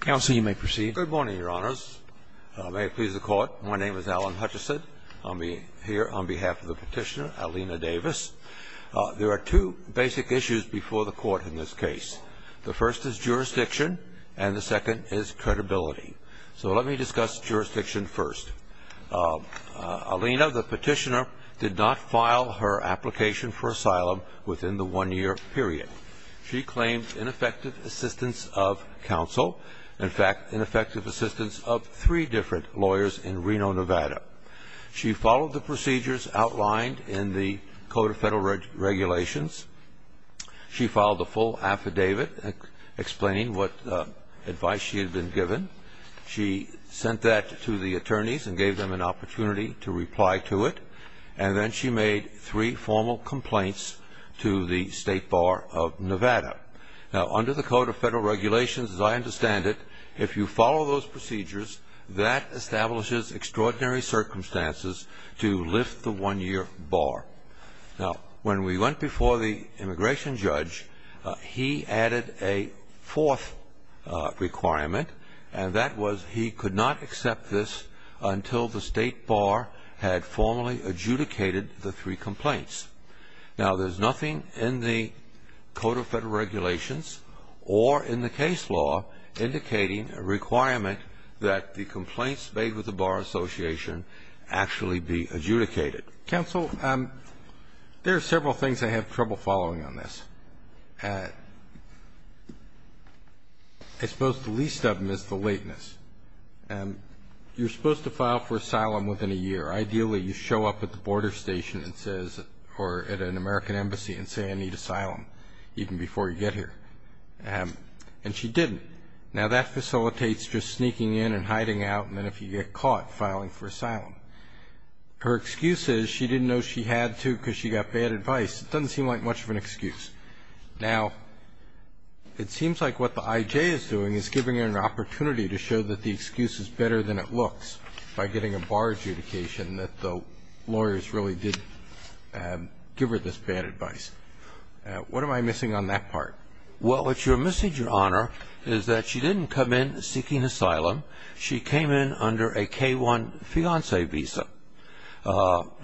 Good morning, Your Honors. May it please the Court, my name is Alan Hutchison. I'm here on behalf of the petitioner, Alina Davis. There are two basic issues before the Court in this case. The first is jurisdiction, and the second is credibility. So let me discuss jurisdiction first. Alina, the petitioner, did not file her application for asylum within the one-year period. She claimed ineffective assistance of counsel, in fact, ineffective assistance of three different lawyers in Reno, Nevada. She followed the procedures outlined in the Code of Federal Regulations. She filed a full affidavit explaining what advice she had been given. She sent that to the attorneys and gave them an opportunity to reply to it. And then she made three formal complaints to the State Bar of Nevada. Now, under the Code of Federal Regulations, as I understand it, if you follow those procedures, that establishes extraordinary circumstances to lift the one-year bar. Now, when we went before the immigration judge, he added a fourth requirement, and that was he could not accept this until the State Bar had formally adjudicated the three complaints. Now, there's nothing in the Code of Federal Regulations or in the case law indicating a requirement that the complaints made with the Bar Association actually be adjudicated. Roberts. Counsel, there are several things I have trouble following on this. I suppose the least of them is the lateness. You're supposed to file for asylum within a year. Ideally, you show up at the border station and say, or at an American embassy and say, I need asylum even before you get here. And she didn't. Now, that facilitates just sneaking in and hiding out, and then if you get caught, filing for asylum. Her excuse is she didn't know she had to because she got bad advice. It doesn't seem like much of an excuse. Now, it seems like what the IJ is doing is giving her an opportunity to show that the excuse is better than it looks by getting a bar adjudication, that the lawyers really did give her this bad advice. What am I missing on that part? Well, what you're missing, Your Honor, is that she didn't come in seeking asylum. She came in under a K-1 fiancé visa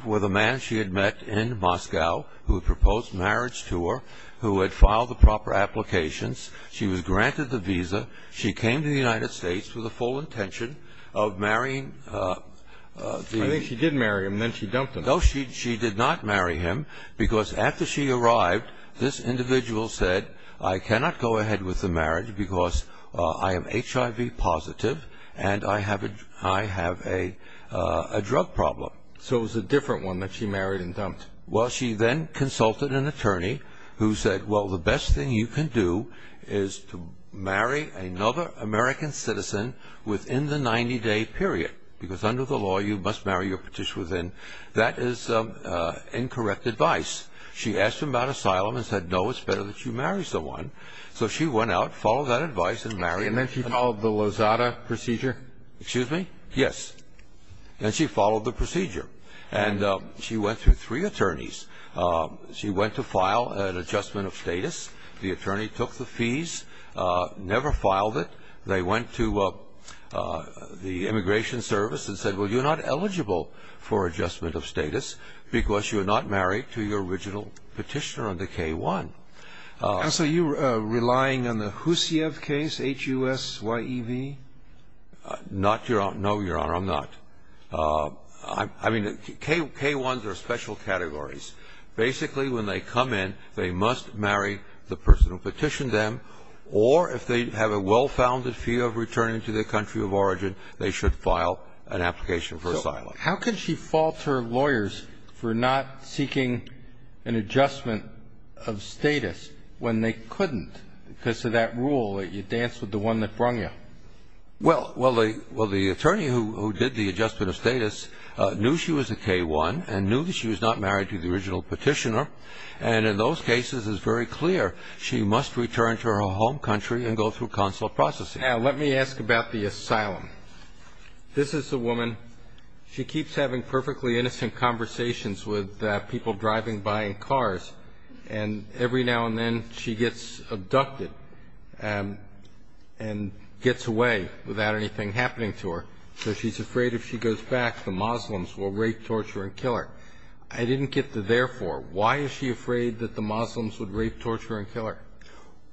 with a man she had met in Moscow who had proposed marriage to her, who had filed the proper applications. She was granted the visa. She came to the United States with a full intention of marrying the ‑‑ I think she did marry him, then she dumped him. No, she did not marry him because after she arrived, this individual said, I cannot go ahead with the marriage because I am HIV positive and I have a drug problem. So it was a different one that she married and dumped. Well, she then consulted an attorney who said, well, the best thing you can do is to marry another American citizen within the 90‑day period because under the law you must marry your petitioner within. That is incorrect advice. She asked him about asylum and said, no, it's better that you marry someone. So she went out, followed that advice and married him. And then she followed the Lozada procedure? Excuse me? Yes. And she followed the procedure. And she went through three attorneys. She went to file an adjustment of status. The attorney took the fees, never filed it. They went to the immigration service and said, well, you're not eligible for adjustment of status because you are not married to your original petitioner under K‑1. And so you're relying on the HUSIEV case, H-U-S-Y-E-V? No, Your Honor, I'm not. I mean, K‑1s are special categories. Basically, when they come in, they must marry the person who petitioned them, or if they have a well‑founded fear of returning to their country of origin, they should file an application for asylum. So how can she fault her lawyers for not seeking an adjustment of status when they couldn't because of that rule that you dance with the one that brung you? Well, the attorney who did the adjustment of status knew she was a K‑1 and knew that she was not married to the original petitioner, and in those cases it's very clear she must return to her home country and go through consular processing. Now, let me ask about the asylum. This is a woman. She keeps having perfectly innocent conversations with people driving by in cars, and every now and then she gets abducted and gets away without anything happening to her. So she's afraid if she goes back, the Muslims will rape, torture, and kill her. I didn't get the therefore. Why is she afraid that the Muslims would rape, torture, and kill her?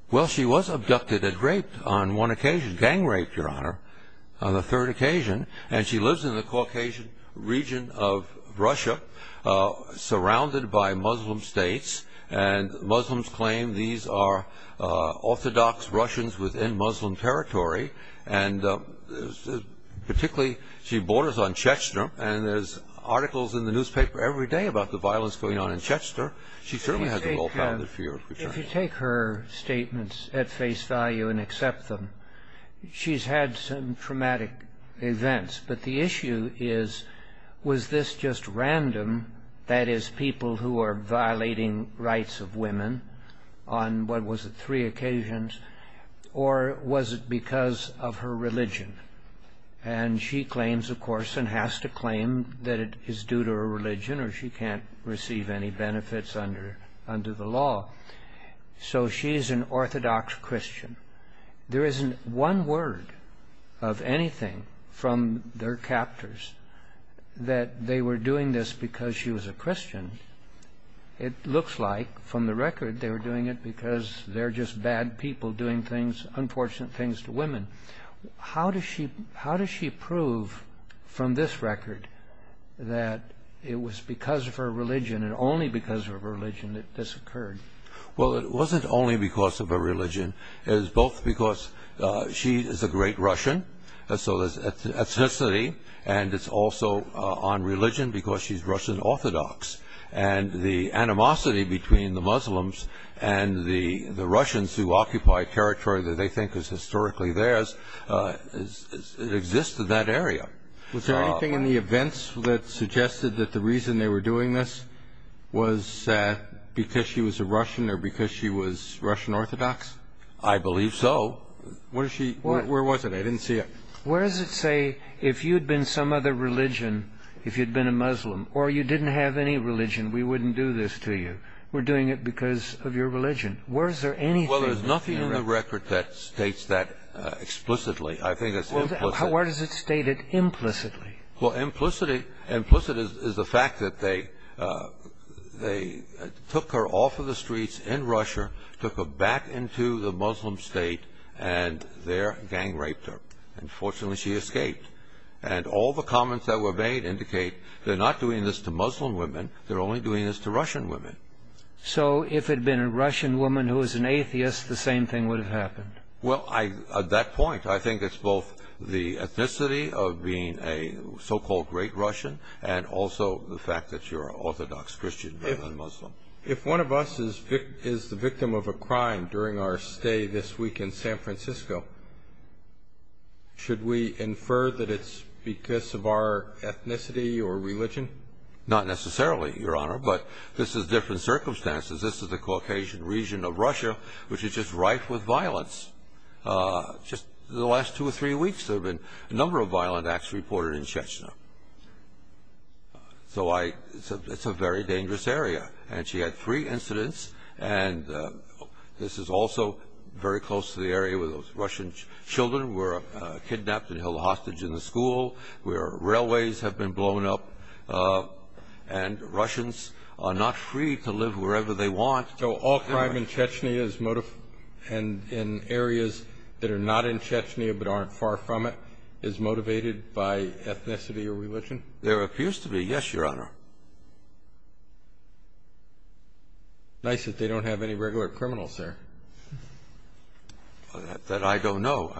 Well, she was abducted and raped on one occasion, gang raped, Your Honor, on the third occasion, and she lives in the Caucasian region of Russia surrounded by Muslim states, and Muslims claim these are orthodox Russians within Muslim territory, and particularly she borders on Chechnya, and there's articles in the newspaper every day about the violence going on in Chechnya. She certainly has a well‑founded fear of returning. Now, if you take her statements at face value and accept them, she's had some traumatic events, but the issue is, was this just random, that is, people who are violating rights of women on, what was it, three occasions, or was it because of her religion? And she claims, of course, and has to claim that it is due to her religion or she can't receive any benefits under the law. So she's an orthodox Christian. There isn't one word of anything from their captors that they were doing this because she was a Christian. It looks like, from the record, they were doing it because they're just bad people doing things, unfortunate things to women. How does she prove, from this record, that it was because of her religion and only because of her religion that this occurred? Well, it wasn't only because of her religion. It was both because she is a great Russian, so there's ethnicity, and it's also on religion because she's Russian orthodox. And the animosity between the Muslims and the Russians who occupy territory that they think is historically theirs exists in that area. Was there anything in the events that suggested that the reason they were doing this was because she was a Russian or because she was Russian orthodox? I believe so. Where was it? I didn't see it. Where does it say, if you'd been some other religion, if you'd been a Muslim, or you didn't have any religion, we wouldn't do this to you? We're doing it because of your religion. Well, there's nothing in the record that states that explicitly. I think it's implicit. Well, where does it state it implicitly? Well, implicit is the fact that they took her off of the streets in Russia, took her back into the Muslim state, and there gang-raped her. And fortunately, she escaped. And all the comments that were made indicate they're not doing this to Muslim women. They're only doing this to Russian women. So if it had been a Russian woman who was an atheist, the same thing would have happened? Well, at that point, I think it's both the ethnicity of being a so-called great Russian and also the fact that you're an orthodox Christian rather than Muslim. If one of us is the victim of a crime during our stay this week in San Francisco, should we infer that it's because of our ethnicity or religion? Not necessarily, Your Honor, but this is different circumstances. This is the Caucasian region of Russia, which is just rife with violence. Just in the last two or three weeks, there have been a number of violent acts reported in Chechnya. So it's a very dangerous area. And she had three incidents. And this is also very close to the area where those Russian children were kidnapped and held hostage in the school, where railways have been blown up, and Russians are not free to live wherever they want. So all crime in areas that are not in Chechnya but aren't far from it is motivated by ethnicity or religion? There appears to be, yes, Your Honor. Nice that they don't have any regular criminals there. That I don't know.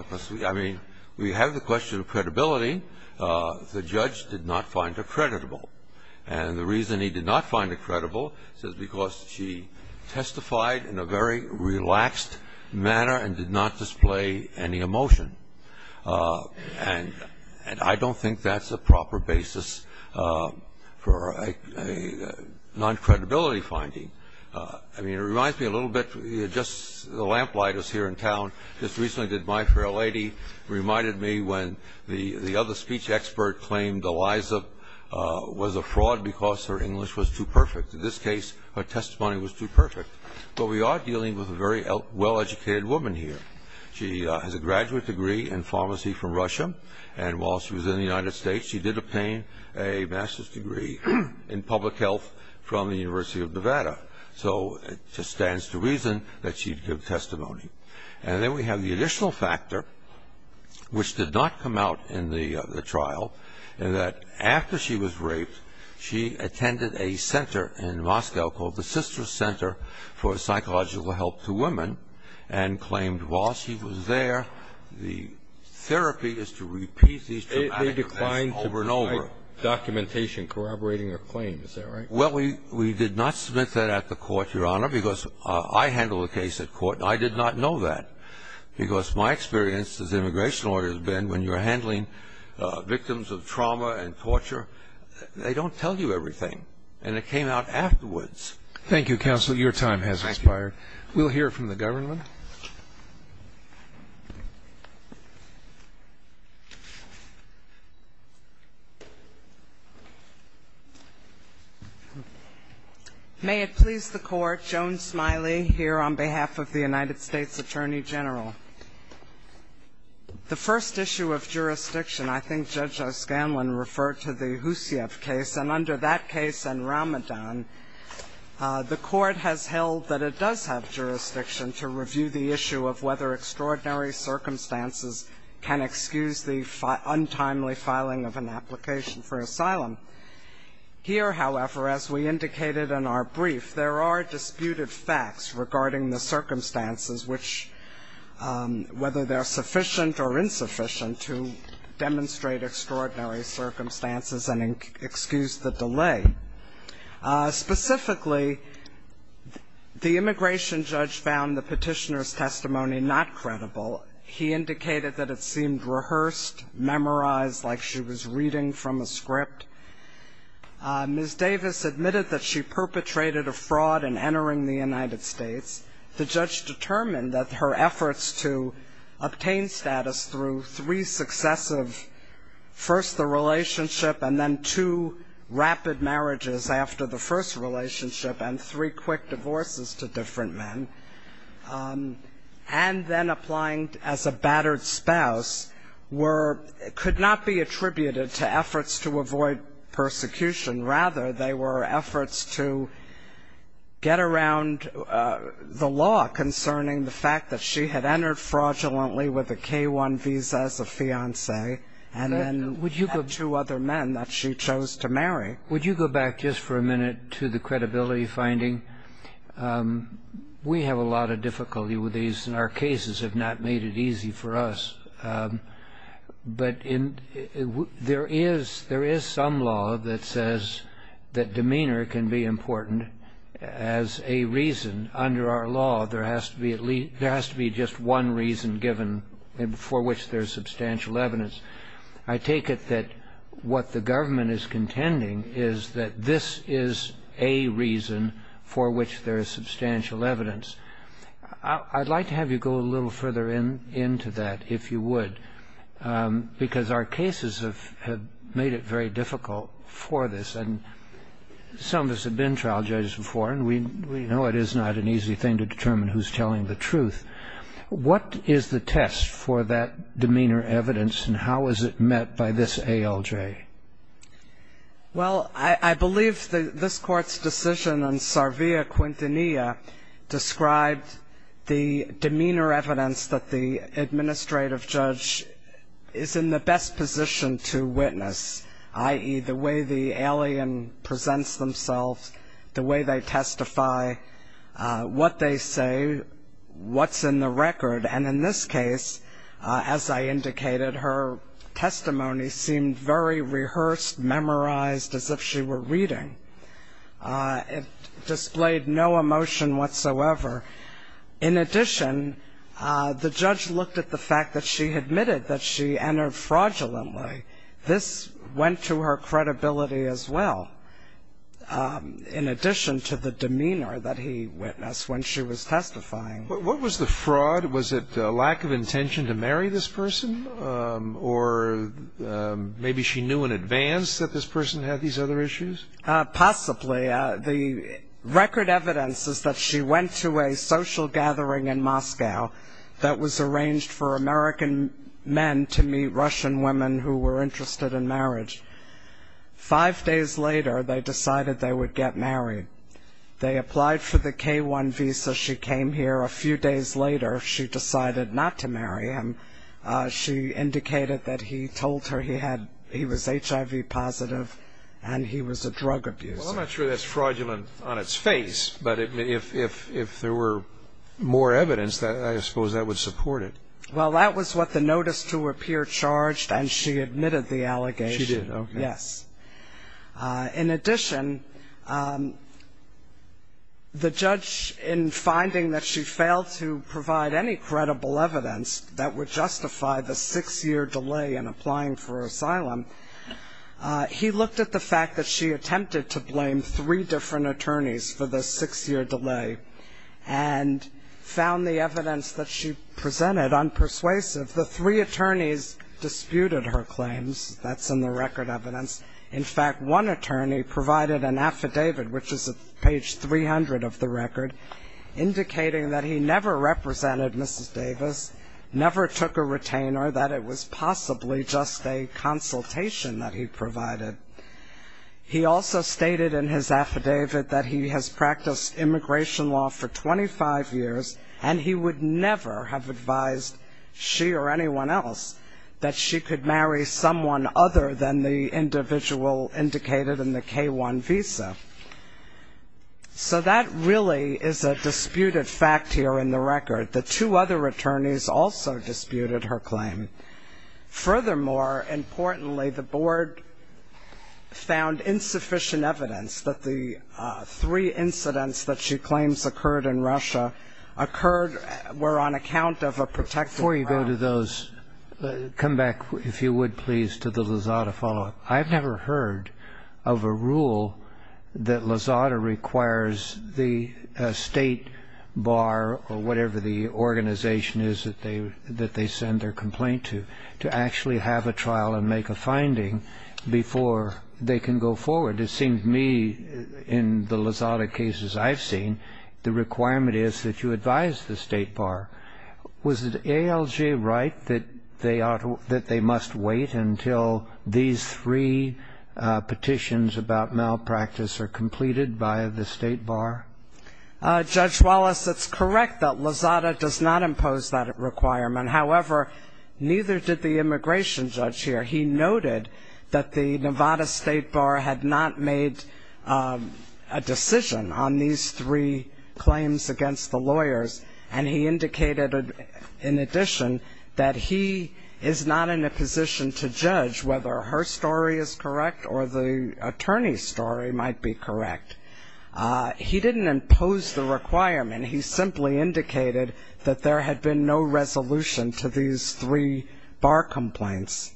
I mean, we have the question of credibility. The judge did not find her creditable. And the reason he did not find her credible is because she testified in a very relaxed manner and did not display any emotion. And I don't think that's a proper basis for a non-credibility finding. I mean, it reminds me a little bit, just the lamplighters here in town, just recently did My Fair Lady, reminded me when the other speech expert claimed Eliza was a fraud because her English was too perfect. In this case, her testimony was too perfect. But we are dealing with a very well-educated woman here. She has a graduate degree in pharmacy from Russia. And while she was in the United States, she did obtain a master's degree in public health from the University of Nevada. So it just stands to reason that she'd give testimony. And then we have the additional factor, which did not come out in the trial, in that after she was raped, she attended a center in Moscow called the Sisters Center for Psychological Help to Women and claimed while she was there, the therapy is to repeat these traumatic events over and over. They declined to provide documentation corroborating her claim. Is that right? Well, we did not submit that at the court, Your Honor, because I handle the case at court. And I did not know that because my experience as an immigration lawyer has been when you're handling victims of trauma and torture, they don't tell you everything. And it came out afterwards. Thank you, Counselor. Your time has expired. Thank you. Let's hear from the government. May it please the Court. Joan Smiley here on behalf of the United States Attorney General. The first issue of jurisdiction, I think Judge O'Scanlan referred to the Husieff case. And under that case and Ramadan, the court has held that it does have jurisdiction to review the issue of whether extraordinary circumstances can excuse the untimely filing of an application for asylum. Here, however, as we indicated in our brief, there are disputed facts regarding the circumstances, which whether they're sufficient or insufficient to demonstrate extraordinary circumstances and excuse the delay. Specifically, the immigration judge found the petitioner's testimony not credible. He indicated that it seemed rehearsed, memorized, like she was reading from a script. Ms. Davis admitted that she perpetrated a fraud in entering the United States. The judge determined that her efforts to obtain status through three successive, first the relationship and then two rapid marriages after the first relationship and three quick divorces to different men, and then applying as a battered spouse, could not be attributed to efforts to avoid persecution. Rather, they were efforts to get around the law concerning the fact that she had entered fraudulently with a K-1 visa as a fiancé and then two other men that she chose to marry. Would you go back just for a minute to the credibility finding? We have a lot of difficulty with these, and our cases have not made it easy for us. But there is some law that says that demeanor can be important as a reason. Under our law, there has to be just one reason given for which there is substantial evidence. I take it that what the government is contending is that this is a reason for which there is substantial evidence. I'd like to have you go a little further into that, if you would, because our cases have made it very difficult for this, and some of us have been trial judges before, and we know it is not an easy thing to determine who's telling the truth. What is the test for that demeanor evidence, and how is it met by this ALJ? Well, I believe this Court's decision in Sarvia Quintanilla described the demeanor evidence that the administrative judge is in the best position to witness, i.e., the way the alien presents themselves, the way they testify, what they say, what's in the record. And in this case, as I indicated, her testimony seemed very rehearsed, memorized, as if she were reading. It displayed no emotion whatsoever. In addition, the judge looked at the fact that she admitted that she entered fraudulently. This went to her credibility as well, in addition to the demeanor that he witnessed when she was testifying. What was the fraud? Was it lack of intention to marry this person, or maybe she knew in advance that this person had these other issues? Possibly. The record evidence is that she went to a social gathering in Moscow that was arranged for American men to meet Russian women who were interested in marriage. Five days later, they decided they would get married. They applied for the K-1 visa. She came here a few days later. She decided not to marry him. She indicated that he told her he was HIV positive and he was a drug abuser. Well, I'm not sure that's fraudulent on its face, but if there were more evidence, I suppose that would support it. Well, that was what the notice to appear charged, and she admitted the allegation. She did, okay. Yes. In addition, the judge, in finding that she failed to provide any credible evidence that would justify the six-year delay in applying for asylum, he looked at the fact that she attempted to blame three different attorneys for the six-year delay and found the evidence that she presented unpersuasive. The three attorneys disputed her claims. That's in the record evidence. In fact, one attorney provided an affidavit, which is at page 300 of the record, indicating that he never represented Mrs. Davis, never took a retainer, that it was possibly just a consultation that he provided. He also stated in his affidavit that he has practiced immigration law for 25 years and he would never have advised she or anyone else that she could marry someone other than the individual indicated in the K-1 visa. So that really is a disputed fact here in the record. The two other attorneys also disputed her claim. Furthermore, importantly, the board found insufficient evidence that the three incidents that she claims occurred in Russia occurred were on account of a protected ground. Before you go to those, come back, if you would, please, to the Lozada follow-up. I've never heard of a rule that Lozada requires the state bar or whatever the organization is that they send their complaint to, to actually have a trial and make a finding before they can go forward. It seems to me in the Lozada cases I've seen, the requirement is that you advise the state bar. Was it ALJ right that they must wait until these three petitions about malpractice are completed by the state bar? Judge Wallace, it's correct that Lozada does not impose that requirement. However, neither did the immigration judge here. He noted that the Nevada state bar had not made a decision on these three claims against the lawyers, and he indicated in addition that he is not in a position to judge whether her story is correct or the attorney's story might be correct. He didn't impose the requirement. He simply indicated that there had been no resolution to these three bar complaints.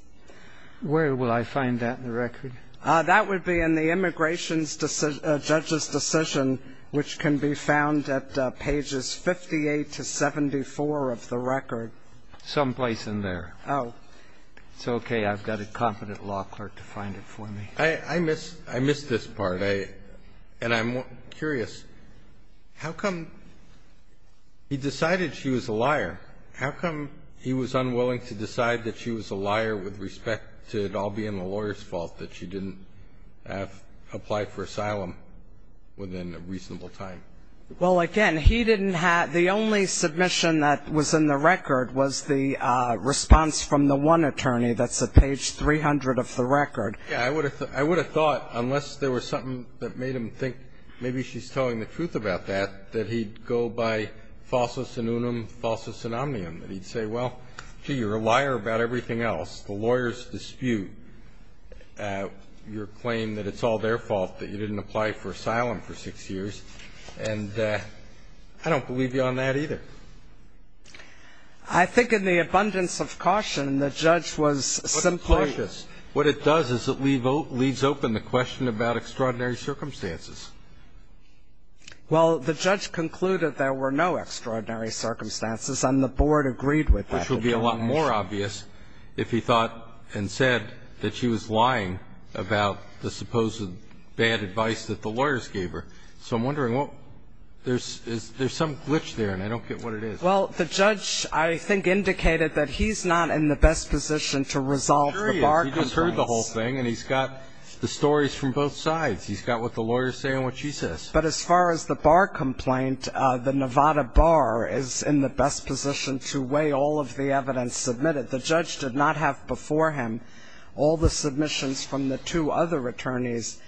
Where will I find that in the record? That would be in the immigration judge's decision, which can be found at pages 58 to 74 of the record. Someplace in there. Oh. It's okay. I've got a competent law clerk to find it for me. I miss this part, and I'm curious. How come he decided she was a liar? How come he was unwilling to decide that she was a liar with respect to it all being the lawyer's fault that she didn't apply for asylum within a reasonable time? Well, again, he didn't have the only submission that was in the record was the response from the one attorney. That's at page 300 of the record. I would have thought, unless there was something that made him think maybe she's telling the truth about that, that he'd go by falsus in unum, falsus in omnium, that he'd say, well, gee, you're a liar about everything else, the lawyer's dispute, your claim that it's all their fault that you didn't apply for asylum for six years, and I don't believe you on that either. I think in the abundance of caution, the judge was simply. He was cautious. What it does is it leaves open the question about extraordinary circumstances. Well, the judge concluded there were no extraordinary circumstances, and the board agreed with that determination. Which would be a lot more obvious if he thought and said that she was lying about the supposed bad advice that the lawyers gave her. So I'm wondering, is there some glitch there? And I don't get what it is. Well, the judge, I think, indicated that he's not in the best position to resolve the bar complaints. He just heard the whole thing, and he's got the stories from both sides. He's got what the lawyers say and what she says. But as far as the bar complaint, the Nevada bar is in the best position to weigh all of the evidence submitted. The judge did not have before him all the submissions from the two other attorneys,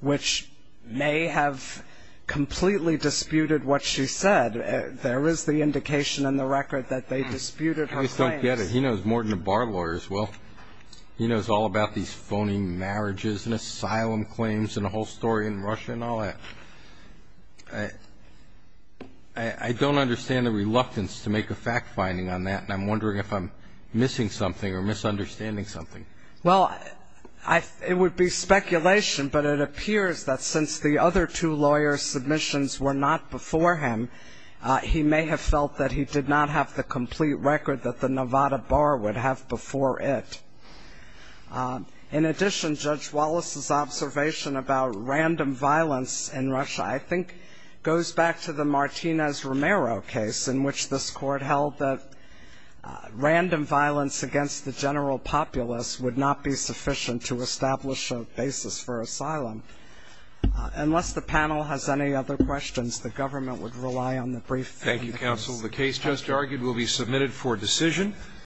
which may have completely disputed what she said. There is the indication in the record that they disputed her claims. I just don't get it. He knows more than the bar lawyers. Well, he knows all about these phony marriages and asylum claims and the whole story in Russia and all that. I don't understand the reluctance to make a fact-finding on that, and I'm wondering if I'm missing something or misunderstanding something. Well, it would be speculation, but it appears that since the other two lawyers' submissions were not before him, he may have felt that he did not have the complete record that the Nevada bar would have before it. In addition, Judge Wallace's observation about random violence in Russia I think goes back to the Martinez-Romero case in which this court held that random violence against the general populace would not be sufficient to establish a basis for asylum. Unless the panel has any other questions, the government would rely on the brief. Thank you, counsel. The case just argued will be submitted for decision.